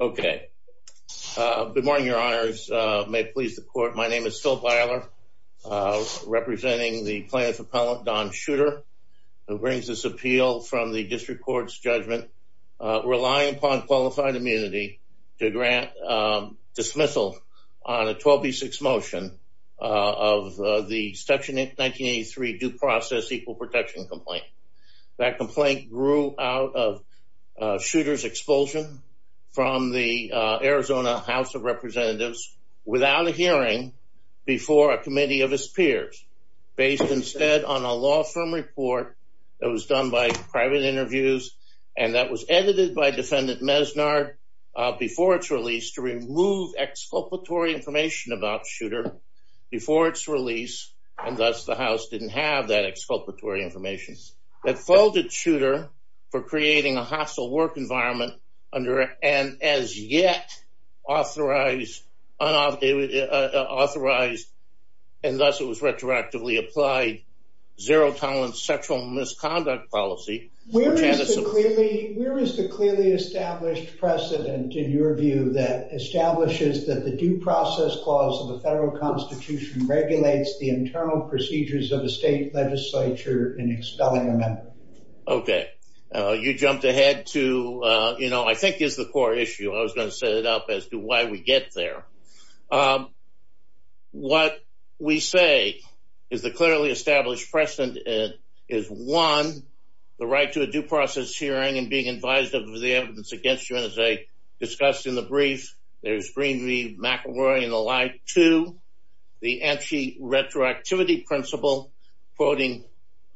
Okay. Good morning, your honors. May it please the court. My name is Phil Byler, representing the plaintiff's appellant, Don Shooter, who brings this appeal from the district court's judgment, relying upon qualified immunity to grant dismissal on a 12B6 motion of the Section 1983 Due Process Equal from the Arizona House of Representatives without a hearing before a committee of his peers, based instead on a law firm report that was done by private interviews, and that was edited by Defendant Mesnard before its release to remove exculpatory information about Shooter before its release, and thus the House didn't have that exculpatory information. That folded Shooter for as yet authorized, unauthorized, and thus it was retroactively applied zero tolerance sexual misconduct policy. Where is the clearly established precedent, in your view, that establishes that the Due Process Clause of the federal Constitution regulates the internal procedures of the state legislature in expelling a member? Okay, you jumped ahead to, you know, I think is the core issue. I was going to set it up as to why we get there. What we say is the clearly established precedent is, one, the right to a due process hearing and being advised of the evidence against you, as I discussed in the brief. There's Green v. McElroy and the like. Two, the anti-retroactivity principle, quoting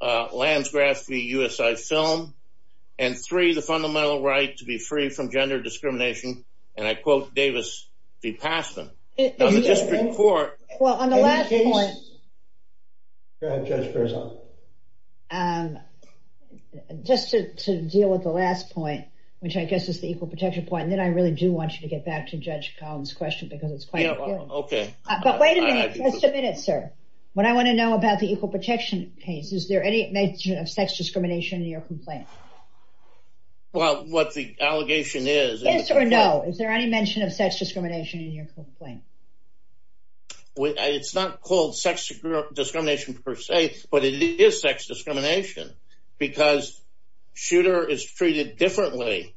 Lansgraff v. USI Film. And three, the fundamental right to be free from gender discrimination, and I quote Davis v. Passman. Well, on the last point, just to deal with the last point, which I guess is the equal protection point, and then I really do want you to get back to Judge Collins' question, because it's quite... Okay. But wait a minute, just a minute, sir. What I want to know about the equal protection case, is there any mention of sex discrimination in your complaint? Well, what the allegation is... Yes or no, is there any mention of sex discrimination in your complaint? It's not called sex discrimination per se, but it is sex discrimination, because shooter is treated differently,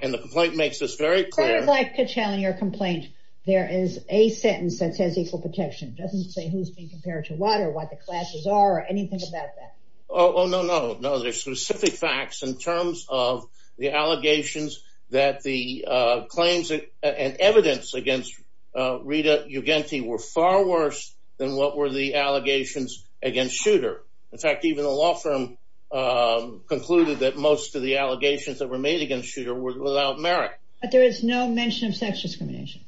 and the complaint makes this very clear... I would like to challenge your complaint. There is a sentence that says equal protection. It doesn't say who's being compared to what, or what the classes are, or anything about that. Oh, no, no, no. There's specific facts in terms of the allegations that the claims and evidence against Rita Ugenti were far worse than what were the allegations against shooter. In fact, even the law firm concluded that most of the allegations that were made against shooter were without merit. But there is no mention of sex discrimination?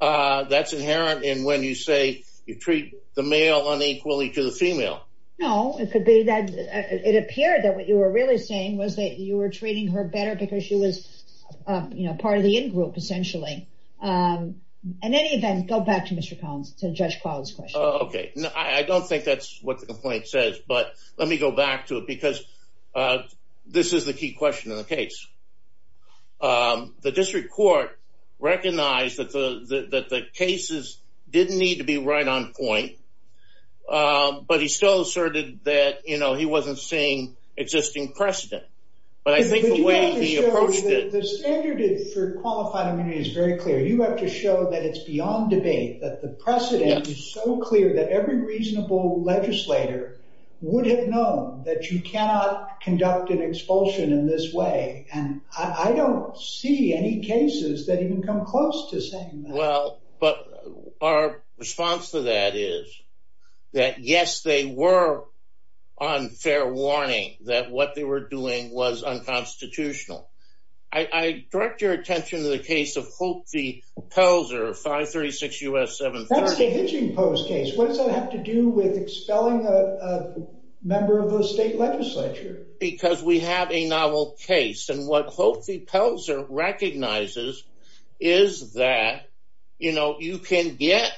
That's inherent in when you say you treat the male unequally to the female. No, it could be that... It appeared that what you were really saying was that you were treating her better because she was part of the in group, essentially. In any event, go back to Mr. Collins, to Judge Collins' question. Okay. I don't think that's what the question was. Go back to it, because this is the key question in the case. The district court recognized that the cases didn't need to be right on point, but he still asserted that he wasn't seeing existing precedent. But I think the way he approached it... The standard for qualified immunity is very clear. You have to show that it's beyond debate, that the precedent is so reasonable. Any reasonable legislator would have known that you cannot conduct an expulsion in this way, and I don't see any cases that even come close to saying that. Well, but our response to that is that, yes, they were on fair warning that what they were doing was unconstitutional. I direct your attention to the case of Hope v. Pelzer, 536 U.S. 730. It's a hitching post case. What does that have to do with expelling a member of the state legislature? Because we have a novel case, and what Hope v. Pelzer recognizes is that you can get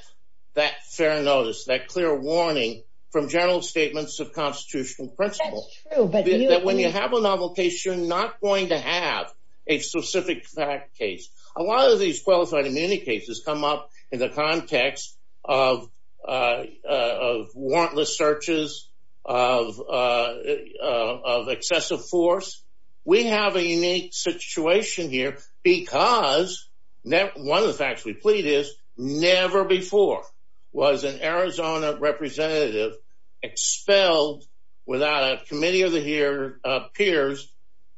that fair notice, that clear warning from general statements of constitutional principle. That's true, but you... That when you have a novel case, you're not going to have a specific fact case. A lot of these qualified immunity cases come up in the context of warrantless searches, of excessive force. We have a unique situation here because one of the facts we plead is, never before was an Arizona representative expelled without a committee of the peers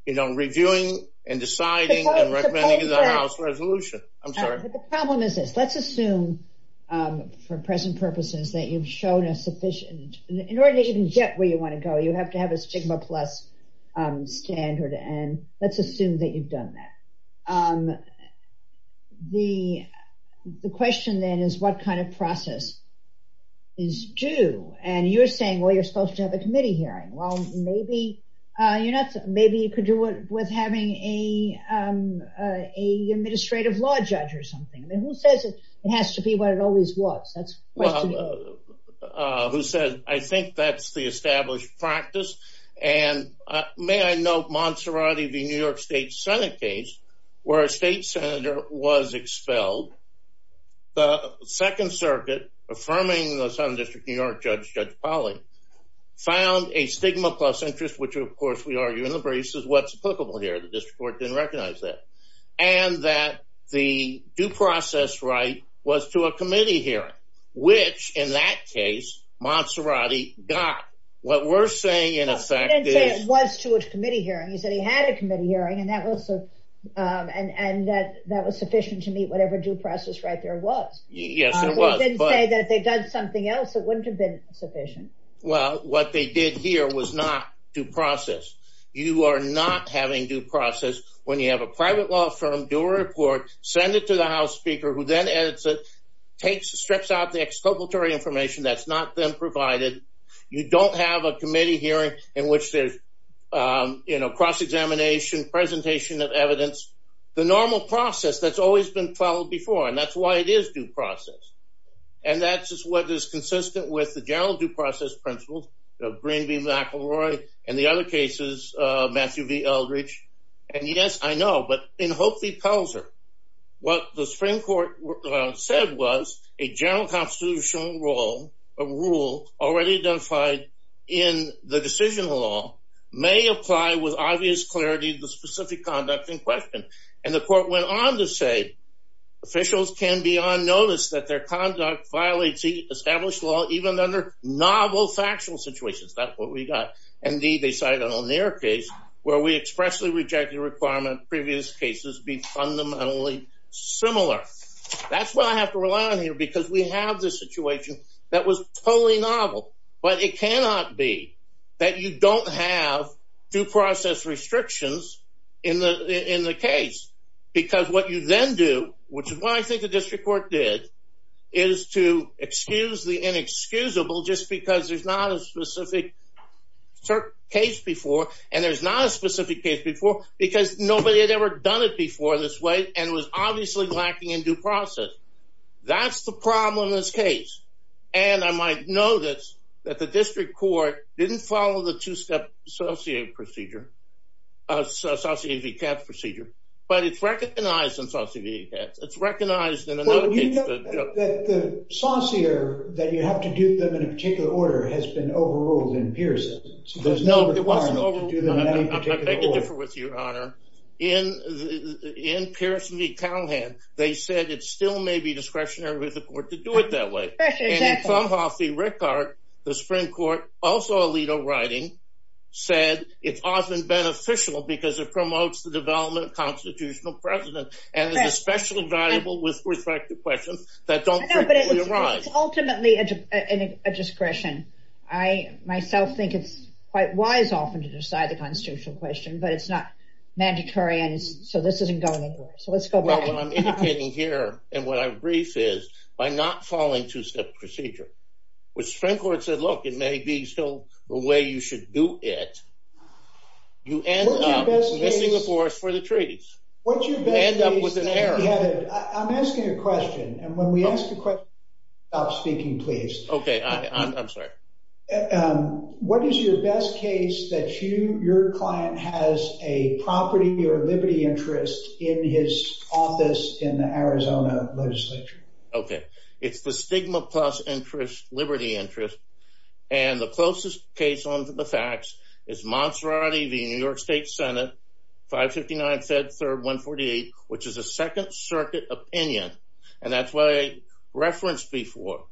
reviewing and deciding and recommending that House resolution. I'm sorry. But the problem is this. Let's assume, for present purposes, that you've shown a sufficient... In order to even get where you wanna go, you have to have a stigma plus standard, and let's assume that you've done that. The question then is, what kind of process is due? And you're saying, well, you're supposed to have a committee hearing. Well, maybe you could do it with having an administrative law judge or something. I mean, who says it has to be what it always was? That's the question. Well, who says... I think that's the established practice. And may I note, Monserrati v. New York State Senate case, where a state senator was expelled. The Second Circuit, affirming the Southern a stigma plus interest, which, of course, we argue in the briefs is what's applicable here. The district court didn't recognize that. And that the due process right was to a committee hearing, which, in that case, Monserrati got. What we're saying, in effect, is... He didn't say it was to a committee hearing. He said he had a committee hearing, and that was sufficient to meet whatever due process right there was. Yes, it was, but... He didn't say that if they'd done something else, it wouldn't have been sufficient. Well, what they did here was not due process. You are not having due process when you have a private law firm do a report, send it to the House Speaker, who then edits it, strips out the exculpatory information that's not then provided. You don't have a committee hearing in which there's cross examination, presentation of evidence. The normal process that's always been followed before, and that's why it is due process. And that's just what is consistent with the general due process principles of Greenby, McElroy, and the other cases, Matthew V. Eldridge. And yes, I know, but in Hope v. Pelzer, what the Supreme Court said was a general constitutional rule, a rule already identified in the decision law, may apply with obvious clarity to the specific conduct in question. And the court went on to say, officials can be on notice that their conduct violates the established law, even under novel factual situations. That's what we got. Indeed, they cited an O'Neill case where we expressly rejected a requirement previous cases be fundamentally similar. That's what I have to rely on here because we have this situation that was totally novel. But it cannot be that you don't have due process restrictions in the case. Because what you then do, which is what I think the district court did, is to excuse the inexcusable just because there's not a specific case before, and there's not a specific case before because nobody had ever done it before this way and was obviously lacking in due process. That's the problem in this case. And I might know that the district court didn't follow the two step associative procedure, associative e-cats procedure, but it's recognized in associative e-cats. It's recognized in another case... Well, you know that the saucier that you have to do them in a particular order has been overruled in Pearson. There's no requirement to do them in any particular order. I beg to differ with you, Your Honor. In Pearson v. Callahan, they said it still may be discretionary with the court to do it that way. And in Clumhoff v. Rickard, the Supreme Court, also Alito writing, said it's often beneficial because it promotes the development of constitutional precedent and is especially valuable with respect to questions that don't frequently arise. No, but it's ultimately a discretion. I myself think it's quite wise often to decide the constitutional question, but it's not mandatory and so this isn't going to be mandatory. So let's go back. What I'm indicating here and what I brief is, by not following two step procedure, which Supreme Court said, look, it may be still the way you should do it, you end up missing the force for the treaties. You end up with an error. I'm asking a question and when we ask a question... Stop speaking, please. Okay, I'm sorry. What is your best case that your client has a property or liberty interest in his office in the Arizona legislature? Okay, it's the stigma plus interest, liberty interest. And the closest case onto the facts is Monserrati v. New York State Senate, 559 Fed 3rd, 148, which is a Second Circuit opinion. And that's why I referenced before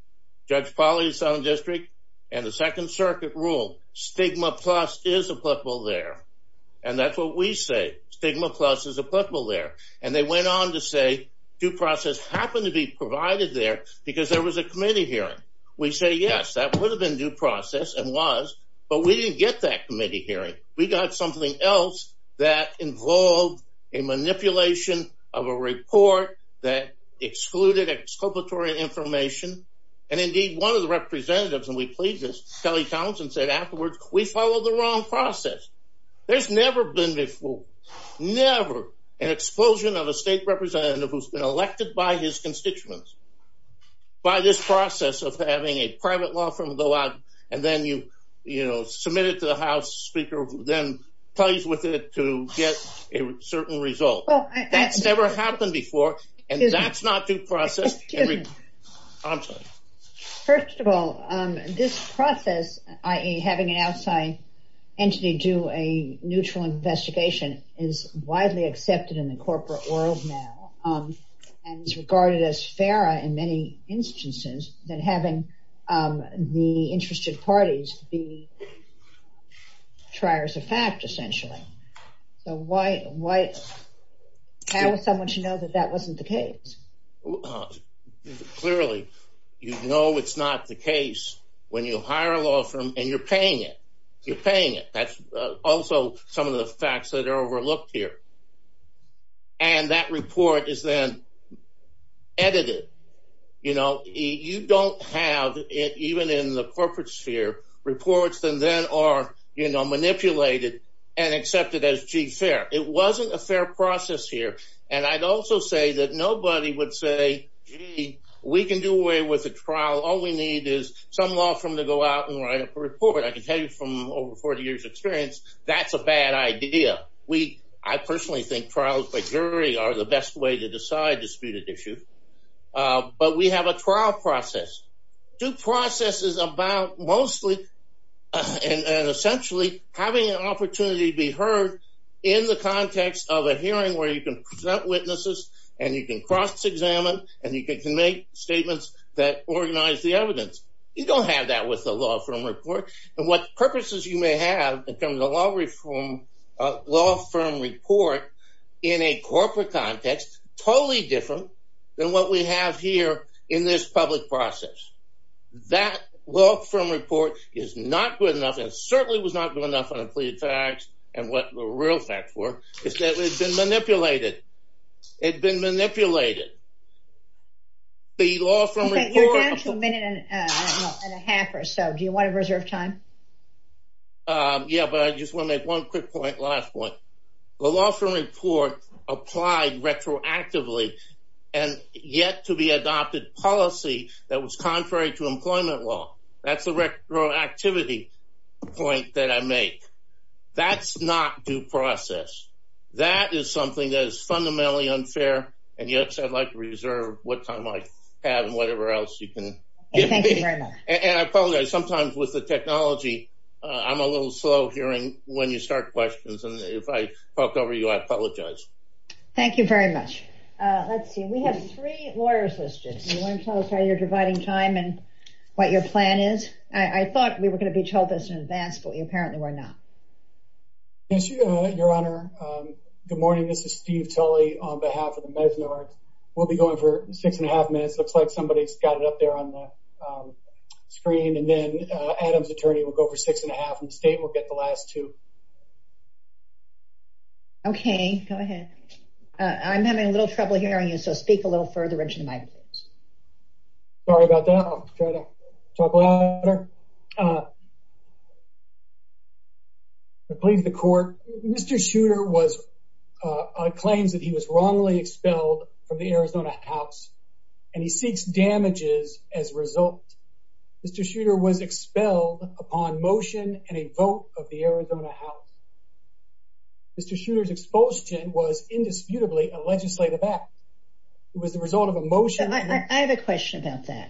Judge Polly's Southern District and the Second Circuit rule. Stigma plus is applicable there. And that's what we say, stigma plus is applicable there. And they went on to say, due process happened to be provided there because there was a committee hearing. We say, yes, that would have been due process and was, but we didn't get that committee hearing. We got something else that involved a manipulation of a report that excluded exculpatory information. And indeed, one of the representatives, and we plead this, Kelly Townsend said afterwards, we followed the wrong process. There's never been before, never, an explosion of a state representative who's been elected by his constituents by this process of having a private law firm go out and then you submit it to the House Speaker, who then plays with it to get a certain result. That's never happened before, and that's not due process. I'm sorry. First of all, this process, having an outside entity do a neutral investigation is widely accepted in the corporate world now, and is regarded as fairer in many instances than having the interested parties be triers of fact, essentially. So why... How would someone should know that that wasn't the case? Clearly, you know it's not the case when you hire a law firm and you're paying it. You're paying it. That's also some of the facts that are overlooked here. And that report is then edited. You don't have, even in the corporate sphere, reports that then are manipulated and accepted as, gee, fair. It wasn't a fair process here. And I'd also say that nobody would say, gee, we can do away with the trial. All we need is some law firm to go out and write up a report. I can tell you from over 40 years' experience, that's a bad idea. I personally think trials by jury are the best way to decide disputed issues. But we have a trial process. The process is about mostly, and essentially, having an opportunity to be heard in the context of a hearing where you can present witnesses, and you can cross examine, and you can make statements that organize the evidence. You don't have that with a law firm report. And what purposes you may have in terms of a law firm report in a corporate context, totally different than what we have here in this public process. That law firm report is not good enough, and certainly was not good enough on a plea of facts and what the real facts were, is that it had been manipulated. It had been manipulated. The law firm report... Okay, you're down to a minute and a half or so. Do you wanna reserve time? Yeah, but I just wanna make one quick point, last point. The law firm report applied retroactively, and yet to be adopted policy that was contrary to employment law. That's a retroactivity point that I make. That's not due process. That is something that is not my path and whatever else you can give me. Thank you very much. And I've found that sometimes with the technology, I'm a little slow hearing when you start questions, and if I talked over you, I apologize. Thank you very much. Let's see, we have three lawyers' assistants. You wanna tell us how you're dividing time and what your plan is? I thought we were gonna be told this in advance, but we apparently were not. Yes, Your Honor. Good morning. This is Steve Tully on behalf of the Mesner. We'll be going for six and a half minutes. Looks like somebody's got it up there on the screen, and then Adam's attorney will go for six and a half, and the state will get the last two. Okay, go ahead. I'm having a little trouble hearing you, so speak a little further into the mic, please. Sorry about that. I'll try to talk to you. I have a question about that. I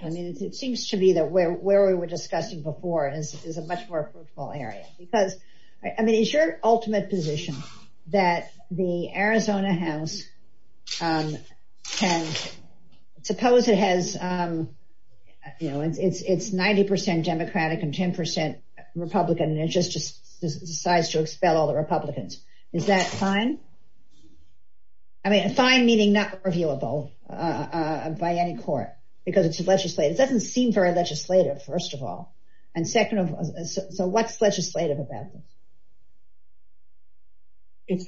mean, it seems to be that where we were discussing before is a much more fruitful area, because... I mean, is your ultimate position that the Arizona House can... Suppose it has... It's 90% Democratic and 10% Republican, and it just decides to expel all the Republicans. Is that fine? I mean, fine meaning not reviewable by any court, because it's legislative. It doesn't seem very legislative, first of all, and second of... So, what's legislative about this? It's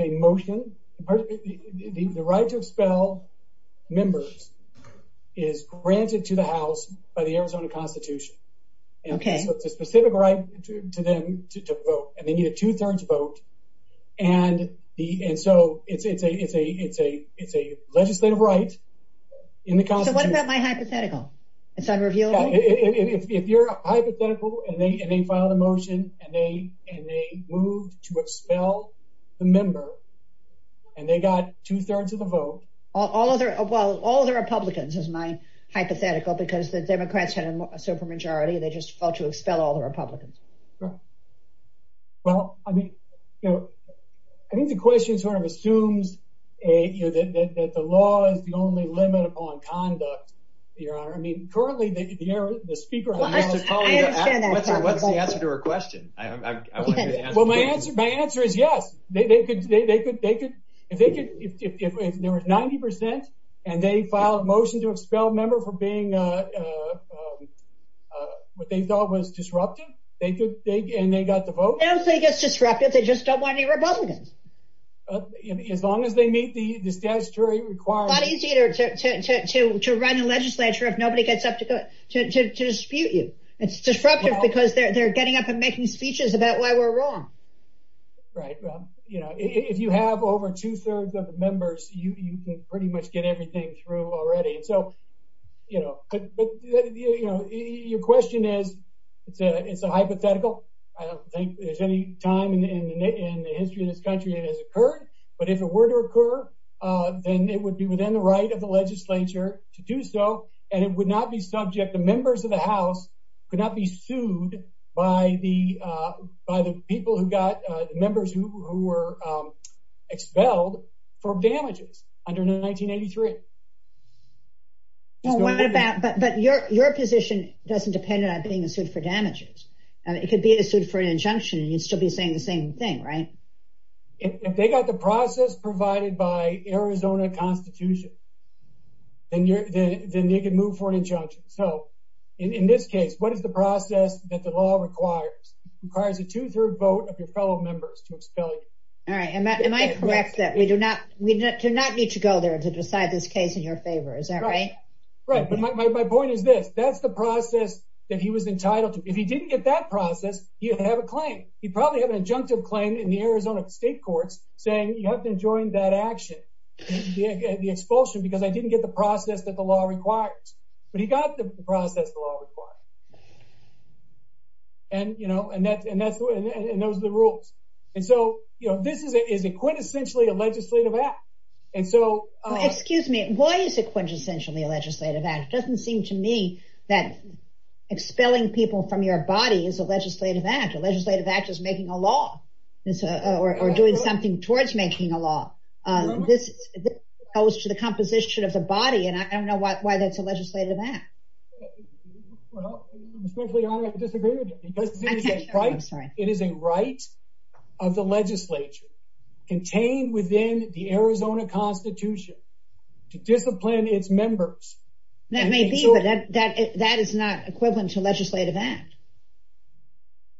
a motion. The right to expel members is granted to the House by the Arizona Constitution. Okay. So, it's a specific right to them to vote, and they need a two thirds vote. And so, it's a legislative right in the Constitution. So, what about my hypothetical? It's unreviewable? Yeah, if you're a hypothetical and they filed a motion, and they moved to expel the member, and they got two thirds of the vote... All other Republicans is my hypothetical, because the Democrats had a super majority, and they just felt to expel all the Republicans. Right. Well, I mean, I think the question sort of assumes that the law is the only limit upon conduct, Your Honor. I mean, currently, the speaker... I understand that. What's the answer to her question? Well, my answer is yes. If there was 90% and they filed a motion to expel a member for being what they thought was disruptive, and they got the vote... I don't think it's disruptive. They just don't want any Republicans. As long as they meet the statutory requirements... It's not easy to run a legislature if nobody gets up to dispute you. It's disruptive because they're getting up and making speeches about why we're wrong. Right. Well, if you have over two thirds of the members, you can pretty much get everything through already. So, your question is, it's a hypothetical. I don't think there's any time in the history of this country that it has occurred, but if it were to occur, then it would be within the right of the legislature to do so, and it would not be subject... The members of the House could not be sued by the people who got... The members who were expelled for damages under 1983. But your position doesn't depend on being sued for damages. It could be sued for an injunction, and you'd still be saying the same thing, right? If they got the process provided by Arizona Constitution, then they could move for an injunction. So, in this case, what is the process that the law requires? It requires a two third vote of your fellow members to expel you. All right. Am I correct that we do not need to go there to decide this case in your favor? Is that right? Right. But my point is this, that's the process that he was entitled to. If he didn't get that process, he'd have a claim. He'd probably have an injunctive claim in the Arizona State Courts saying, you have to enjoin that action, the expulsion, because I didn't get the process that the law requires. But he got the process the law requires. And those are the rules. And so, this is a quintessentially a legislative act. And so... Excuse me, why is it quintessentially a legislative act? It doesn't seem to me that expelling people from your body is a legislative act. A legislative act is making a law, or doing something towards making a law. This goes to the composition of the body, and I don't know why that's a legislative act. Well, I'm especially honored to disagree with you, because it is a right of the legislature, contained within the Constitution. It may be, but that is not equivalent to a legislative act.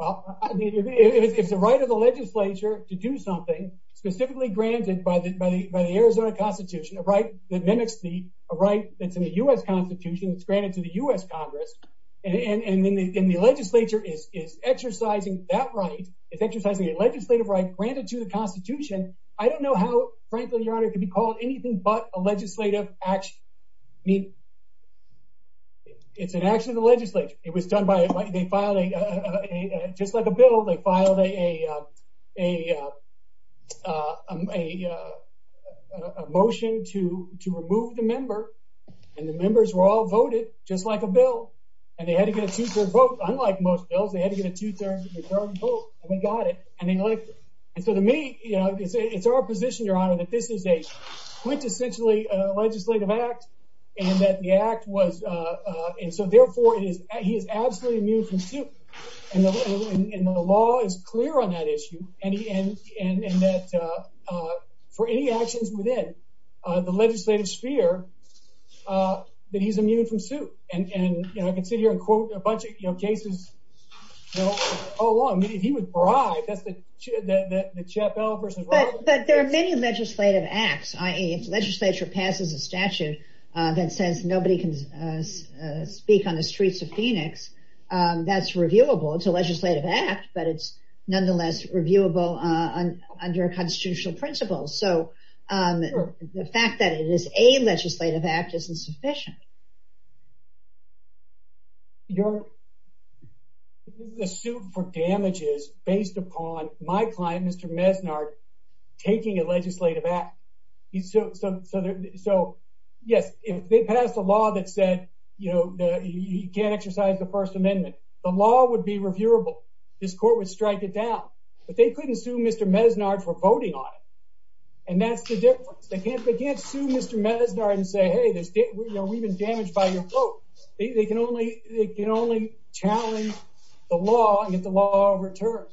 Well, if it's a right of the legislature to do something specifically granted by the Arizona Constitution, a right that mimics a right that's in the US Constitution, it's granted to the US Congress, and then the legislature is exercising that right, it's exercising a legislative right granted to the Constitution, I don't know how, frankly, Your Honor, it could be called anything but a legislative action. It's an action of the legislature. It was done by... They filed a... Just like a bill, they filed a motion to remove the member, and the members were all voted, just like a bill, and they had to get a two third vote. Unlike most bills, they had to get a two third vote, and they got it, and they elected it. And so to me, it's our position, Your Honor, that this is a quintessentially legislative act, and that the act was... And so therefore, it is... He is absolutely immune from suit. And the law is clear on that issue, and that for any actions within the legislative sphere, that he's immune from suit. And I can sit here and quote a bunch of cases all along. He was bribed, that's the Chappell versus Robbins case. But there are many legislative acts, i.e. If the legislature passes a statute that says nobody can speak on the streets of Phoenix, that's reviewable. It's a legislative act, but it's nonetheless reviewable under constitutional principles. So the fact that it is a legislative act isn't sufficient. Your... The suit for damage is based upon my client, Mr. Mesnard, taking a legislative act. So yes, if they pass a law that said he can't exercise the First Amendment, the law would be reviewable. This court would strike it down. But they couldn't sue Mr. Mesnard for voting on it, and that's the difference. They can't sue Mr. Mesnard and say, hey, we've been damaged by your vote. They can only challenge the law and get the law returned.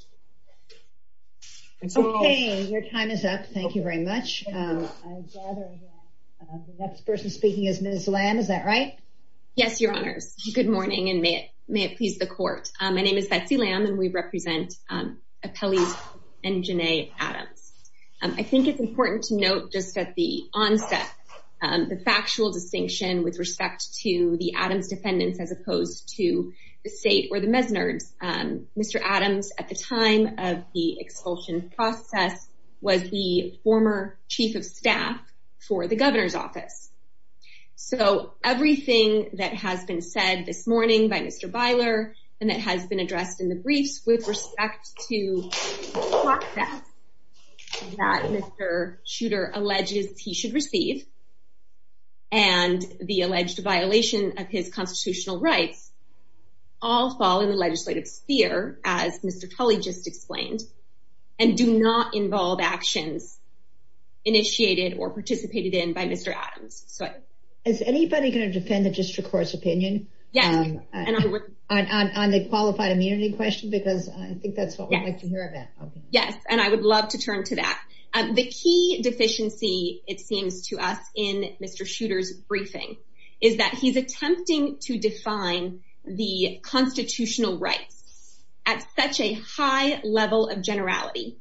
Okay, your time is up. Thank you very much. I gather the next person speaking is Ms. Lamb, is that right? Yes, Your Honors. Good morning, and may it please the court. My name is Betsy Lamb, and we represent Appellees and Jenae Adams. I think it's important to note just at the onset, the factual distinction with respect to the Adams defendants as opposed to the state or the Mesnards. Mr. Adams, at the time of the expulsion process, was the former chief of staff for the governor's office. So everything that has been said this morning by Mr. Beiler and that has been addressed in the briefs with respect to the process that Mr. Shooter alleges he should receive, and the alleged violation of his constitutional rights, all fall in the legislative sphere, as Mr. Tully just explained, and do not involve actions initiated or participated in by Mr. Adams. So... Is anybody gonna defend the district court's opinion? Yes, and I would... On the qualified immunity question, because I think that's what I'd like to hear about. Yes, and I would love to turn to that. The key deficiency, it seems to us, in Mr. Shooter's briefing is that he's attempting to define the constitutional rights at such a high level of generality,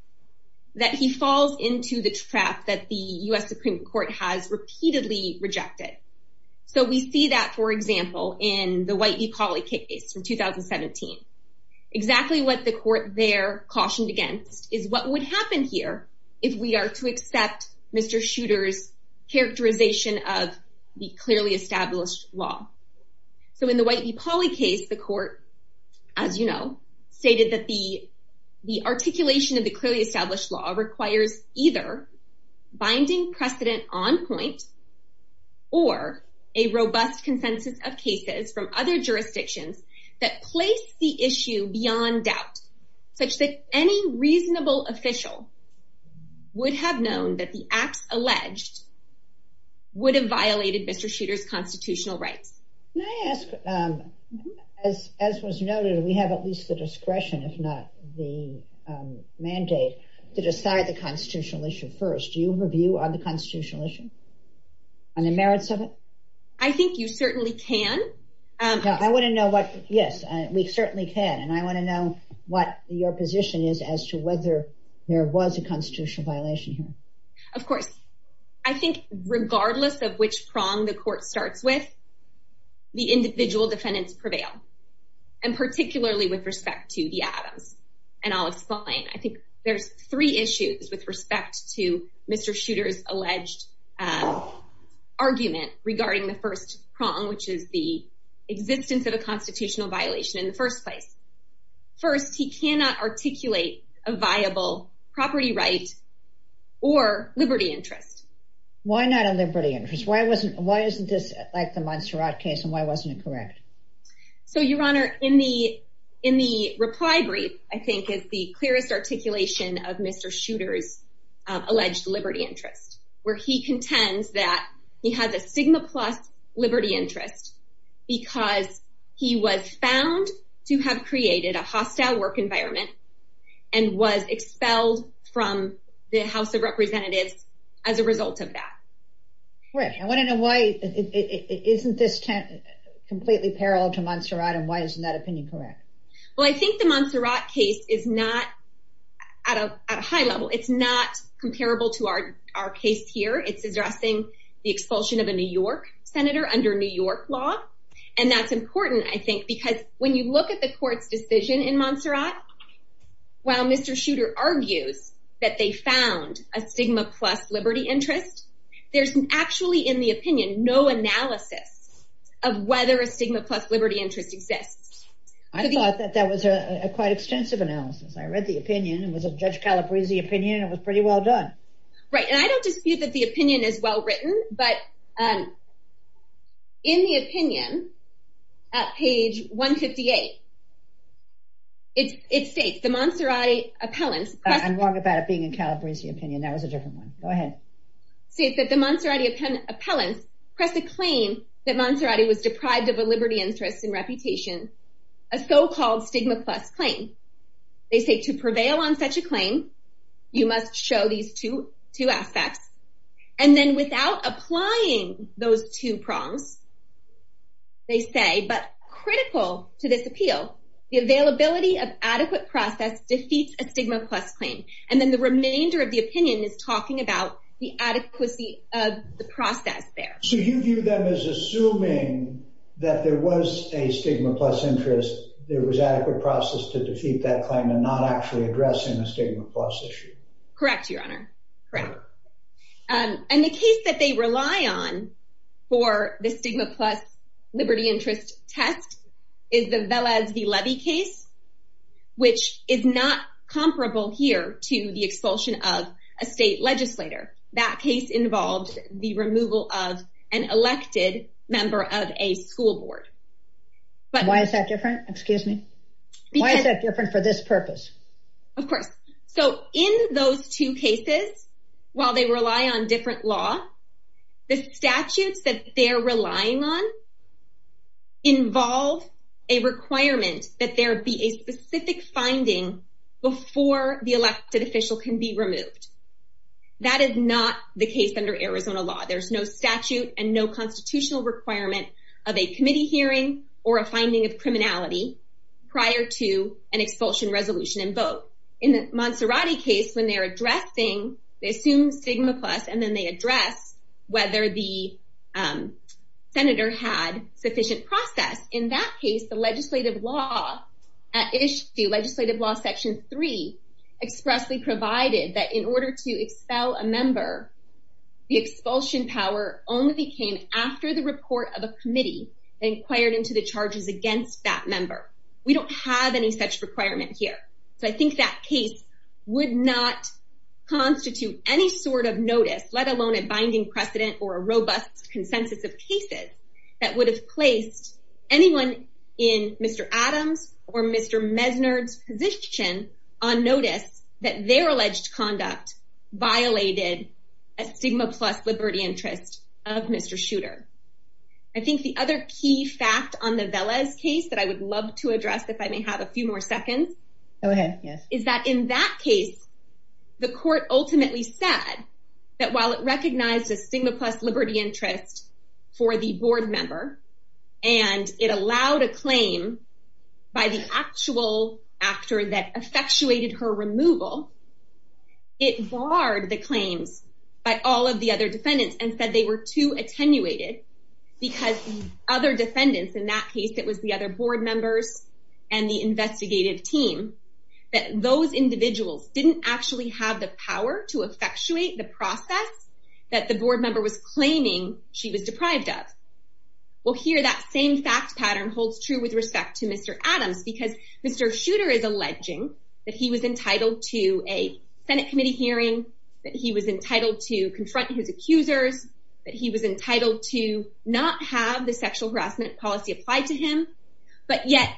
that he falls into the trap that the US Supreme Court has repeatedly rejected. So we see that, for example, in the White v. Pauley case in 2017. Exactly what the court there cautioned against is what would happen here if we are to accept Mr. Shooter's characterization of the clearly established law. So in the White v. Pauley case, the court, as you know, stated that the articulation of the clearly established law requires either binding precedent on point or a robust consensus of cases from other jurisdictions that place the issue beyond doubt, such that any reasonable official would have known that the acts alleged would have violated Mr. Shooter's constitutional rights. May I ask, as was noted, do we have at least the discretion, if not the mandate, to decide the constitutional issue first? Do you review on the constitutional issue and the merits of it? I think you certainly can. I want to know what, yes, we certainly can, and I want to know what your position is as to whether there was a constitutional violation here. Of course. I think regardless of which prong the court starts with, the individual defendants prevail, and particularly with respect to the Adams and Olive Spleen. I think there's three issues with respect to Mr. Shooter's alleged argument regarding the first prong, which is the existence of a constitutional violation in the first place. First, he cannot articulate a viable property right or liberty interest. Why not a liberty interest? Why isn't this like the Montserrat case, and why wasn't it correct? So, Your Honor, in the reply brief, I think, is the clearest articulation of Mr. Shooter's alleged liberty interest, where he contends that he has a sigma plus liberty interest because he was found to have created a hostile work environment and was expelled from the House of Representatives as a result of that. Great. I want to know why isn't this completely parallel to Montserrat, and why isn't that opinion correct? Well, I think the Montserrat case is not at a high level. It's not comparable to our case here. It's addressing the expulsion of a New York senator under New York law, and that's important, I think, because when you look at the court's decision in Montserrat, while Mr. Shooter argues that they found a sigma plus liberty interest, there's actually, in the opinion, no analysis of whether a sigma plus liberty interest exists. I thought that that was a quite extensive analysis. I read the opinion. It was a Judge Calabresi opinion. It was pretty well done. Right, and I don't dispute that the opinion is well written, but in the opinion, at page 158, it states, the Montserrat appellant... I'm wrong about it being a Calabresi opinion. That was a different one. Go on. They claim that Montserrat was deprived of a liberty interest and reputation, a so-called stigma plus claim. They say, to prevail on such a claim, you must show these two aspects, and then without applying those two prongs, they say, but critical to this appeal, the availability of adequate process defeats a stigma plus claim, and then the remainder of the opinion is talking about the adequacy of the process there. So, you view them as assuming that there was a stigma plus interest, there was adequate process to defeat that claim, and not actually addressing a stigma plus issue. Correct, Your Honor. Correct, and the case that they rely on for the stigma plus liberty interest test is the Velez v. Levy case, which is not comparable here to the expulsion of a state legislator. That case involved the removal of an elected member of a school board. Why is that different? Excuse me. Why is that different for this purpose? Of course. So, in those two cases, while they rely on different law, the statutes that they're relying on involve a requirement that there be a specific finding before the elected official can be removed. That is not the case under Arizona law. There's no statute and no constitutional requirement of a committee hearing or a finding of criminality prior to an expulsion resolution and vote. In the Monserrati case, when they're addressing, they assume stigma plus, and then they address whether the senator had sufficient process. In that case, legislative law at issue, legislative law section 3 expressly provided that in order to expel a member, the expulsion power only became after the report of a committee inquired into the charges against that member. We don't have any such requirement here. So, I think that case would not constitute any sort of notice, let alone a binding precedent or a robust consensus of cases that would have placed anyone in Mr. Adams or Mr. Mesnard's position on notice that their alleged conduct violated a stigma plus liberty interest of Mr. Shooter. I think the other key fact on the Velez case that I would love to address, if I may have a few more seconds, is that in that case, the court ultimately said that while it recognized a stigma plus liberty interest for the board member and it allowed a claim by the actual actor that effectuated her removal, it barred the claims by all of the other defendants and said they were too attenuated because other defendants, in that case it was the other board members and the investigative team, that those individuals didn't actually have the power to effectuate the process that the board member was claiming she was deprived of. Well, here that same fact pattern holds true with respect to Mr. Adams because Mr. Shooter is alleging that he was entitled to a Senate committee hearing, that he was entitled to confront his accusers, that he was entitled to not have the sexual harassment policy applied to him, but yet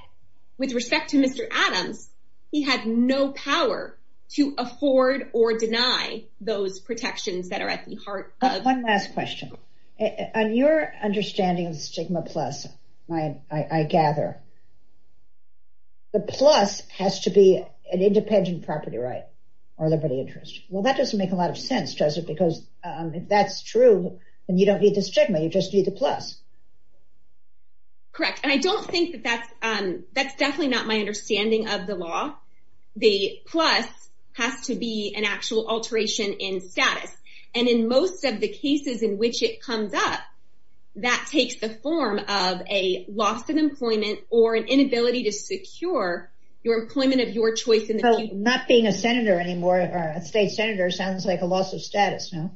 with respect to Mr. Adams, he had no power to afford or deny those protections that are at the heart of... One last question. On your understanding of stigma plus, I gather, the plus has to be an independent property right or liberty interest. Well, that doesn't make a lot of sense, does it? Because if that's true, then you don't need the stigma, you just need the plus. Correct. And I don't think that that's definitely not my understanding of the law. The plus has to be an actual alteration in status. And in most of the cases in which it comes up, that takes the form of a loss of employment or an inability to secure your employment of your choice. So, not being a senator anymore, a state senator, sounds like a loss of status, no?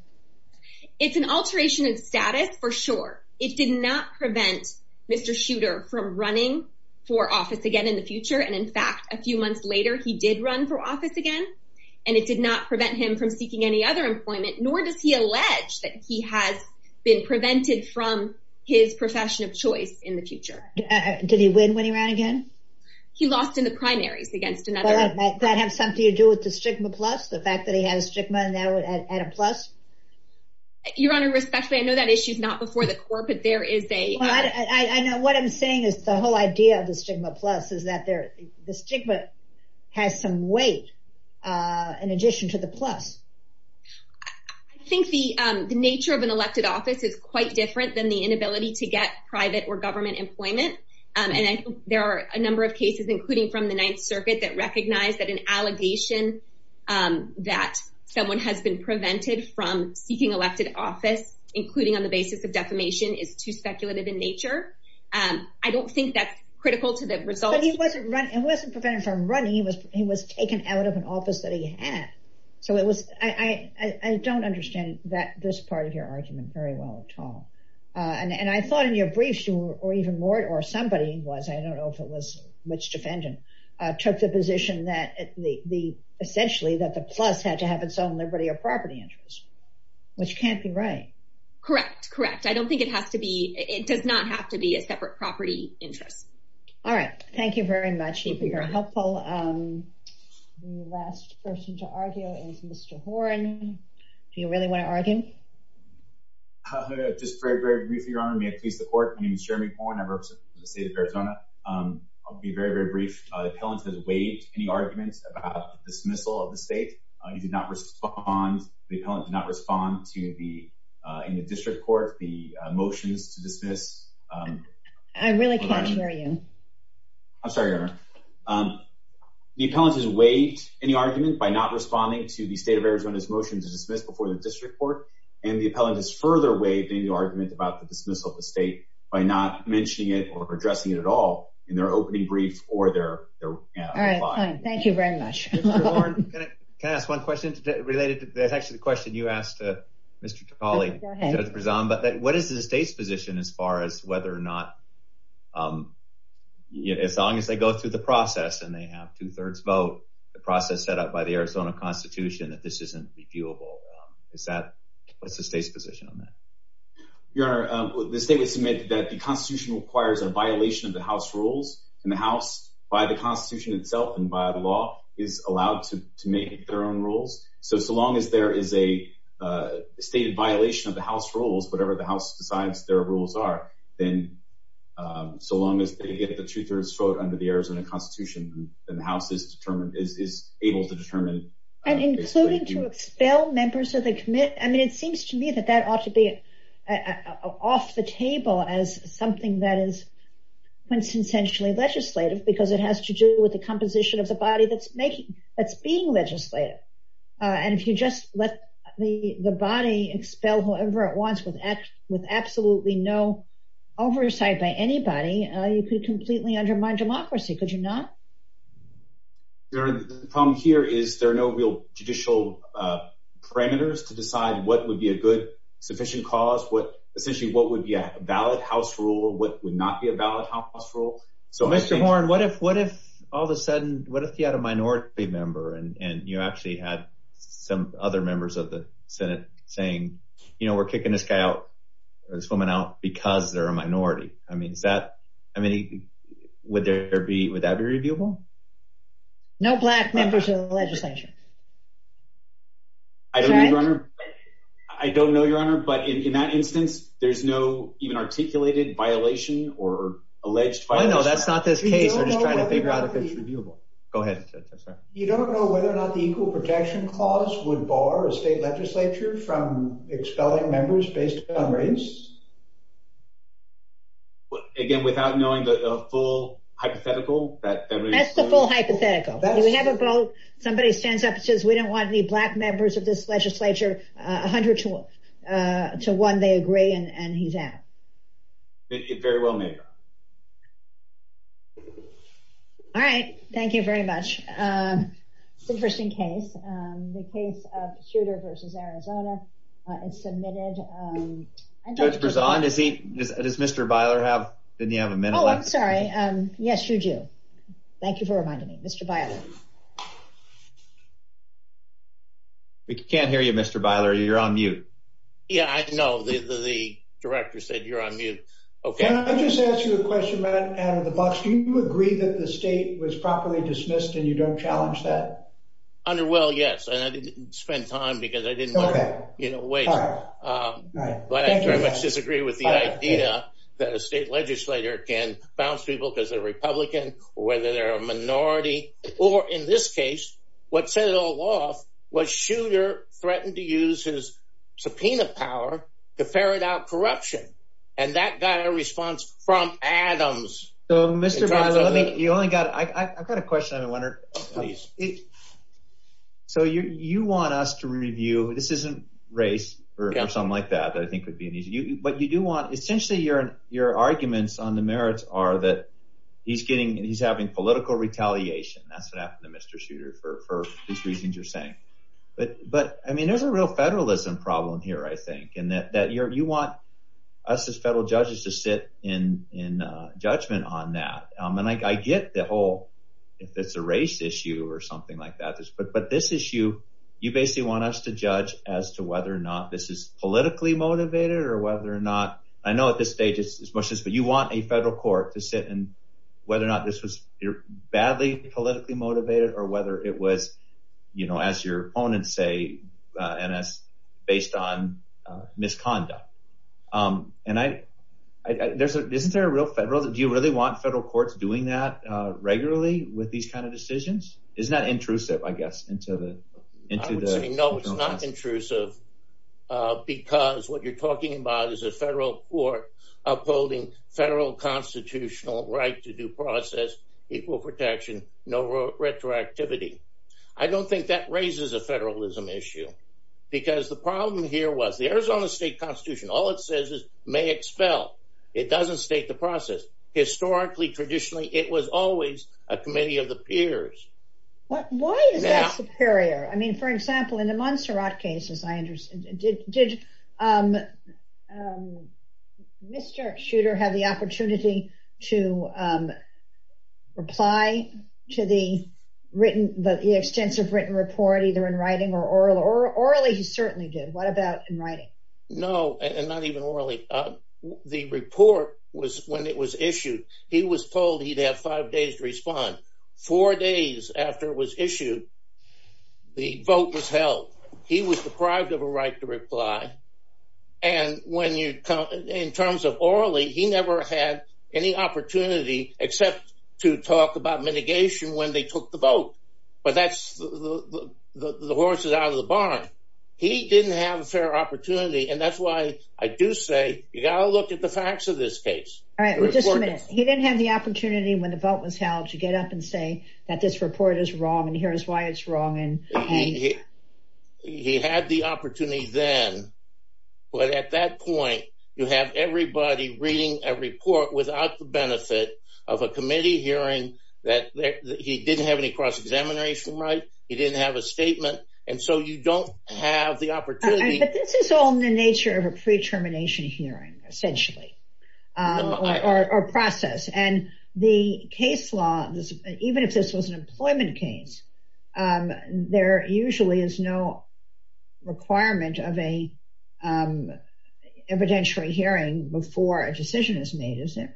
It's an alteration in status, for sure. It did not prevent Mr. Shooter from running for office again in the future. And in fact, a few months later, he did run for office again, and it did not prevent him from seeking any other employment, nor does he allege that he has been prevented from his profession of choice in the future. Did he win when he ran again? He lost in the primaries against another... That have something to do with the stigma plus, the fact that he had a stigma and now at a plus? Your Honor, respectfully, I know that issue's not before the court, but there is a... I know. What I'm saying is the whole idea of the stigma plus is that the stigma has some weight in addition to the plus. I think the nature of an elected office is quite different than the inability to get private or government employment. And I think there are a number of cases, including from the Ninth Circuit, that recognize that an allegation that someone has been prevented from seeking elected office, including on the basis of defamation, is too speculative in nature. I don't think that's critical to the results. But he wasn't prevented from running. He was taken out of an office that he had. So it was... I don't understand this part of your argument very well at all. And I thought in your briefs, or even more, or somebody was, I don't know if it was which defendant, took the position that essentially that the plus had to have its own liberty or property interest, which can't be right. Correct. Correct. I don't think it has to be... It does not have to be a separate property interest. All right. Thank you very much. You've been very helpful. The last person to argue is Mr. Horne. Do you really want to argue? Just very briefly, Your Honor. May it please the court. My name is Jeremy Horne. I represent the state of Arizona. I'll be very, very brief. The appellant has waived any argument about the dismissal of the state. He did not respond... The appellant did not respond to the... In the district court, the motions to dismiss... I really can't hear you. I'm sorry, Your Honor. The appellant has waived any argument by not responding to the state of Arizona's motion to dismiss before the district court. And the appellant has further waived any argument about the dismissal of the state by not mentioning it or addressing it at all in their opening brief or their reply. All right. Fine. Thank you very much. Mr. Horne, can I ask one question related to... That's actually the question you asked Mr. Trapali. What is the state's position as far as whether or not... As long as they go through the process and they have two-thirds vote, the process set up by the Arizona Constitution, that this isn't viewable. What's the state's position on that? Your Honor, the state would submit that the Constitution requires a violation of the House rules. And the House, by the Constitution itself and by the law, is allowed to make their own rules. So, so long as there is a stated violation of the House rules, whatever the House decides their rules are, then so long as they get the two-thirds vote under the Arizona Constitution, then the House is able to determine... And including to expel members of the... I mean, it seems to me that that ought to be off the table as something that is quintessentially legislative because it has to do with the composition of the body that's making... that's being legislative. And if you just let the body expel whoever it wants with absolutely no oversight by anybody, you could completely undermine democracy, could you not? Your Honor, the problem here is there are no real judicial parameters to decide what would be a good, sufficient cause, what... essentially, what would be a valid House rule, what would not be a valid House rule. So I think... Mr. Horne, what if, all of a sudden, what if you had a minority member and you actually had some other members of the Senate saying, you know, we're kicking this guy out, this woman out, because they're a minority? I mean, is that... I mean, would there be... would that be reviewable? No black members of the legislature. I don't know, Your Honor. I don't know, Your Honor, but in that instance, there's no even articulated violation or alleged violation. I know, that's not this case. We're just trying to figure out if it's reviewable. Go ahead. You don't know whether or not the Equal Protection Clause would bar a state legislature from expelling members based on race? Again, without knowing the full hypothetical? That's the full hypothetical. We have a vote, somebody stands up and says, we don't want any black members of this legislature, 100 to 1, they agree, and he's out. Very well made. All right. Thank you very much. It's an interesting case. The case of Shooter v. Arizona is submitted. Judge Berzon, does Mr. Byler have... didn't he have a minute left? Oh, I'm sorry. Yes, you do. Thank you for reminding me. Mr. Byler. We can't hear you, Mr. Byler. You're on mute. Yeah, I know. The director said you're on mute. Okay. Can I just ask you a question, Matt, out of the box? Do you agree that the state was properly dismissed and you don't challenge that? Under, well, yes. And I didn't spend time because I didn't want to, you know, wait. But I very much disagree with the idea that a state legislator can bounce people because they're Republican, or whether they're a minority. Or in this case, what set it all off was Shooter threatened to use his subpoena power to ferret out corruption. And that got a response from Adams. So, Mr. Byler, let me... you only got... I've got a question I've been wondering. Please. So, you want us to review... this isn't race or something like that, that I think would be an easy... but you do want... essentially, your arguments on the merits are that he's getting... he's having political retaliation. That's what happened to Mr. Shooter for these reasons you're saying. But, I mean, there's a real federalism problem here, I think, and that you want us as federal judges to sit in judgment on that. And I get the whole... if it's a race issue or something like that. But this issue, you basically want us to judge as to whether or not this is politically motivated or whether or not... I know at this stage, it's as much as... but you want a federal court to sit and... whether or not this was badly politically motivated or whether it was, as your opponents say, based on misconduct. And I... isn't there a real federal... do you really want federal courts doing that regularly with these kind of decisions? Isn't that intrusive, I guess, into the... I would say no, it's not intrusive because what you're talking about is a federal court upholding federal constitutional right to due process, equal protection, no retroactivity. I don't think that raises a federalism issue because the problem here was the Arizona State Constitution, all it says is may expel. It doesn't state the process. Historically, traditionally, it was always a committee of the peers. But why is that superior? I mean, for example, in the Montserrat cases, I understand... did Mr. Schuter have the opportunity to reply to the written... the extensive written report, either in writing or orally? Orally, he certainly did. What about in writing? No, and not even orally. The report was... when it was issued, he was told he'd have five days to respond. Four days after it was issued, the vote was held. He was deprived of a right to reply. And when you... in terms of orally, he never had any opportunity except to talk about mitigation when they took the vote. But that's... the horse is out of the barn. He didn't have a fair opportunity, and that's why I do say you got to look at the facts of this case. All right, just a minute. He didn't have the opportunity when the vote was held to get up and say that this report is wrong, and here's why it's wrong, and... He had the opportunity then, but at that point, you have everybody reading a report without the benefit of a committee hearing that he didn't have any cross-examination right, he didn't have a statement, and so you don't have the opportunity... But this is all in the nature of a pre-termination hearing, essentially. Or process. And the case law, even if this was an employment case, there usually is no requirement of an evidentiary hearing before a decision is made, isn't it?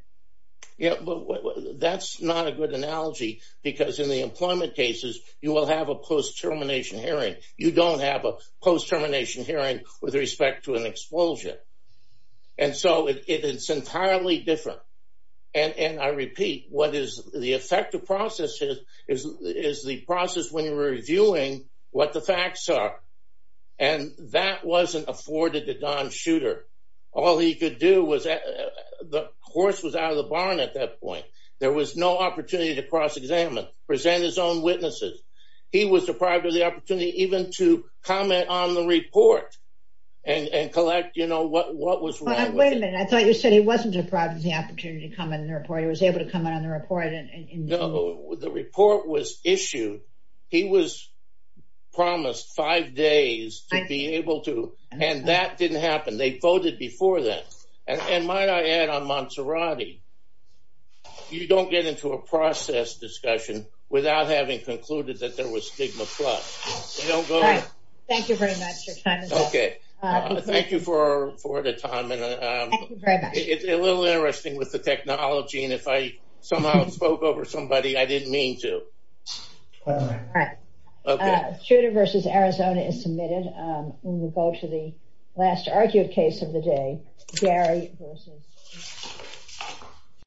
Yeah, but that's not a good analogy, because in the employment cases, you will have a post-termination hearing with respect to an expulsion, and so it's entirely different. And I repeat, what is the effective process is the process when you're reviewing what the facts are, and that wasn't afforded to Don Shooter. All he could do was... The horse was out of the barn at that point. There was no opportunity to cross-examine, present his own witnesses. He was deprived of the opportunity even to comment on the report and collect, you know, what was wrong with it. Wait a minute, I thought you said he wasn't deprived of the opportunity to comment on the report, he was able to comment on the report. No, the report was issued, he was promised five days to be able to, and that didn't happen. They voted before then. And might I add, Monserrati, you don't get into a process discussion without having concluded that there was stigma plus. Thank you very much. Okay, thank you for the time. It's a little interesting with the technology, and if I somehow spoke over somebody, I didn't mean to. All right, Shooter versus Arizona is submitted. We'll go to the last argued case of the day, Gary Wilson.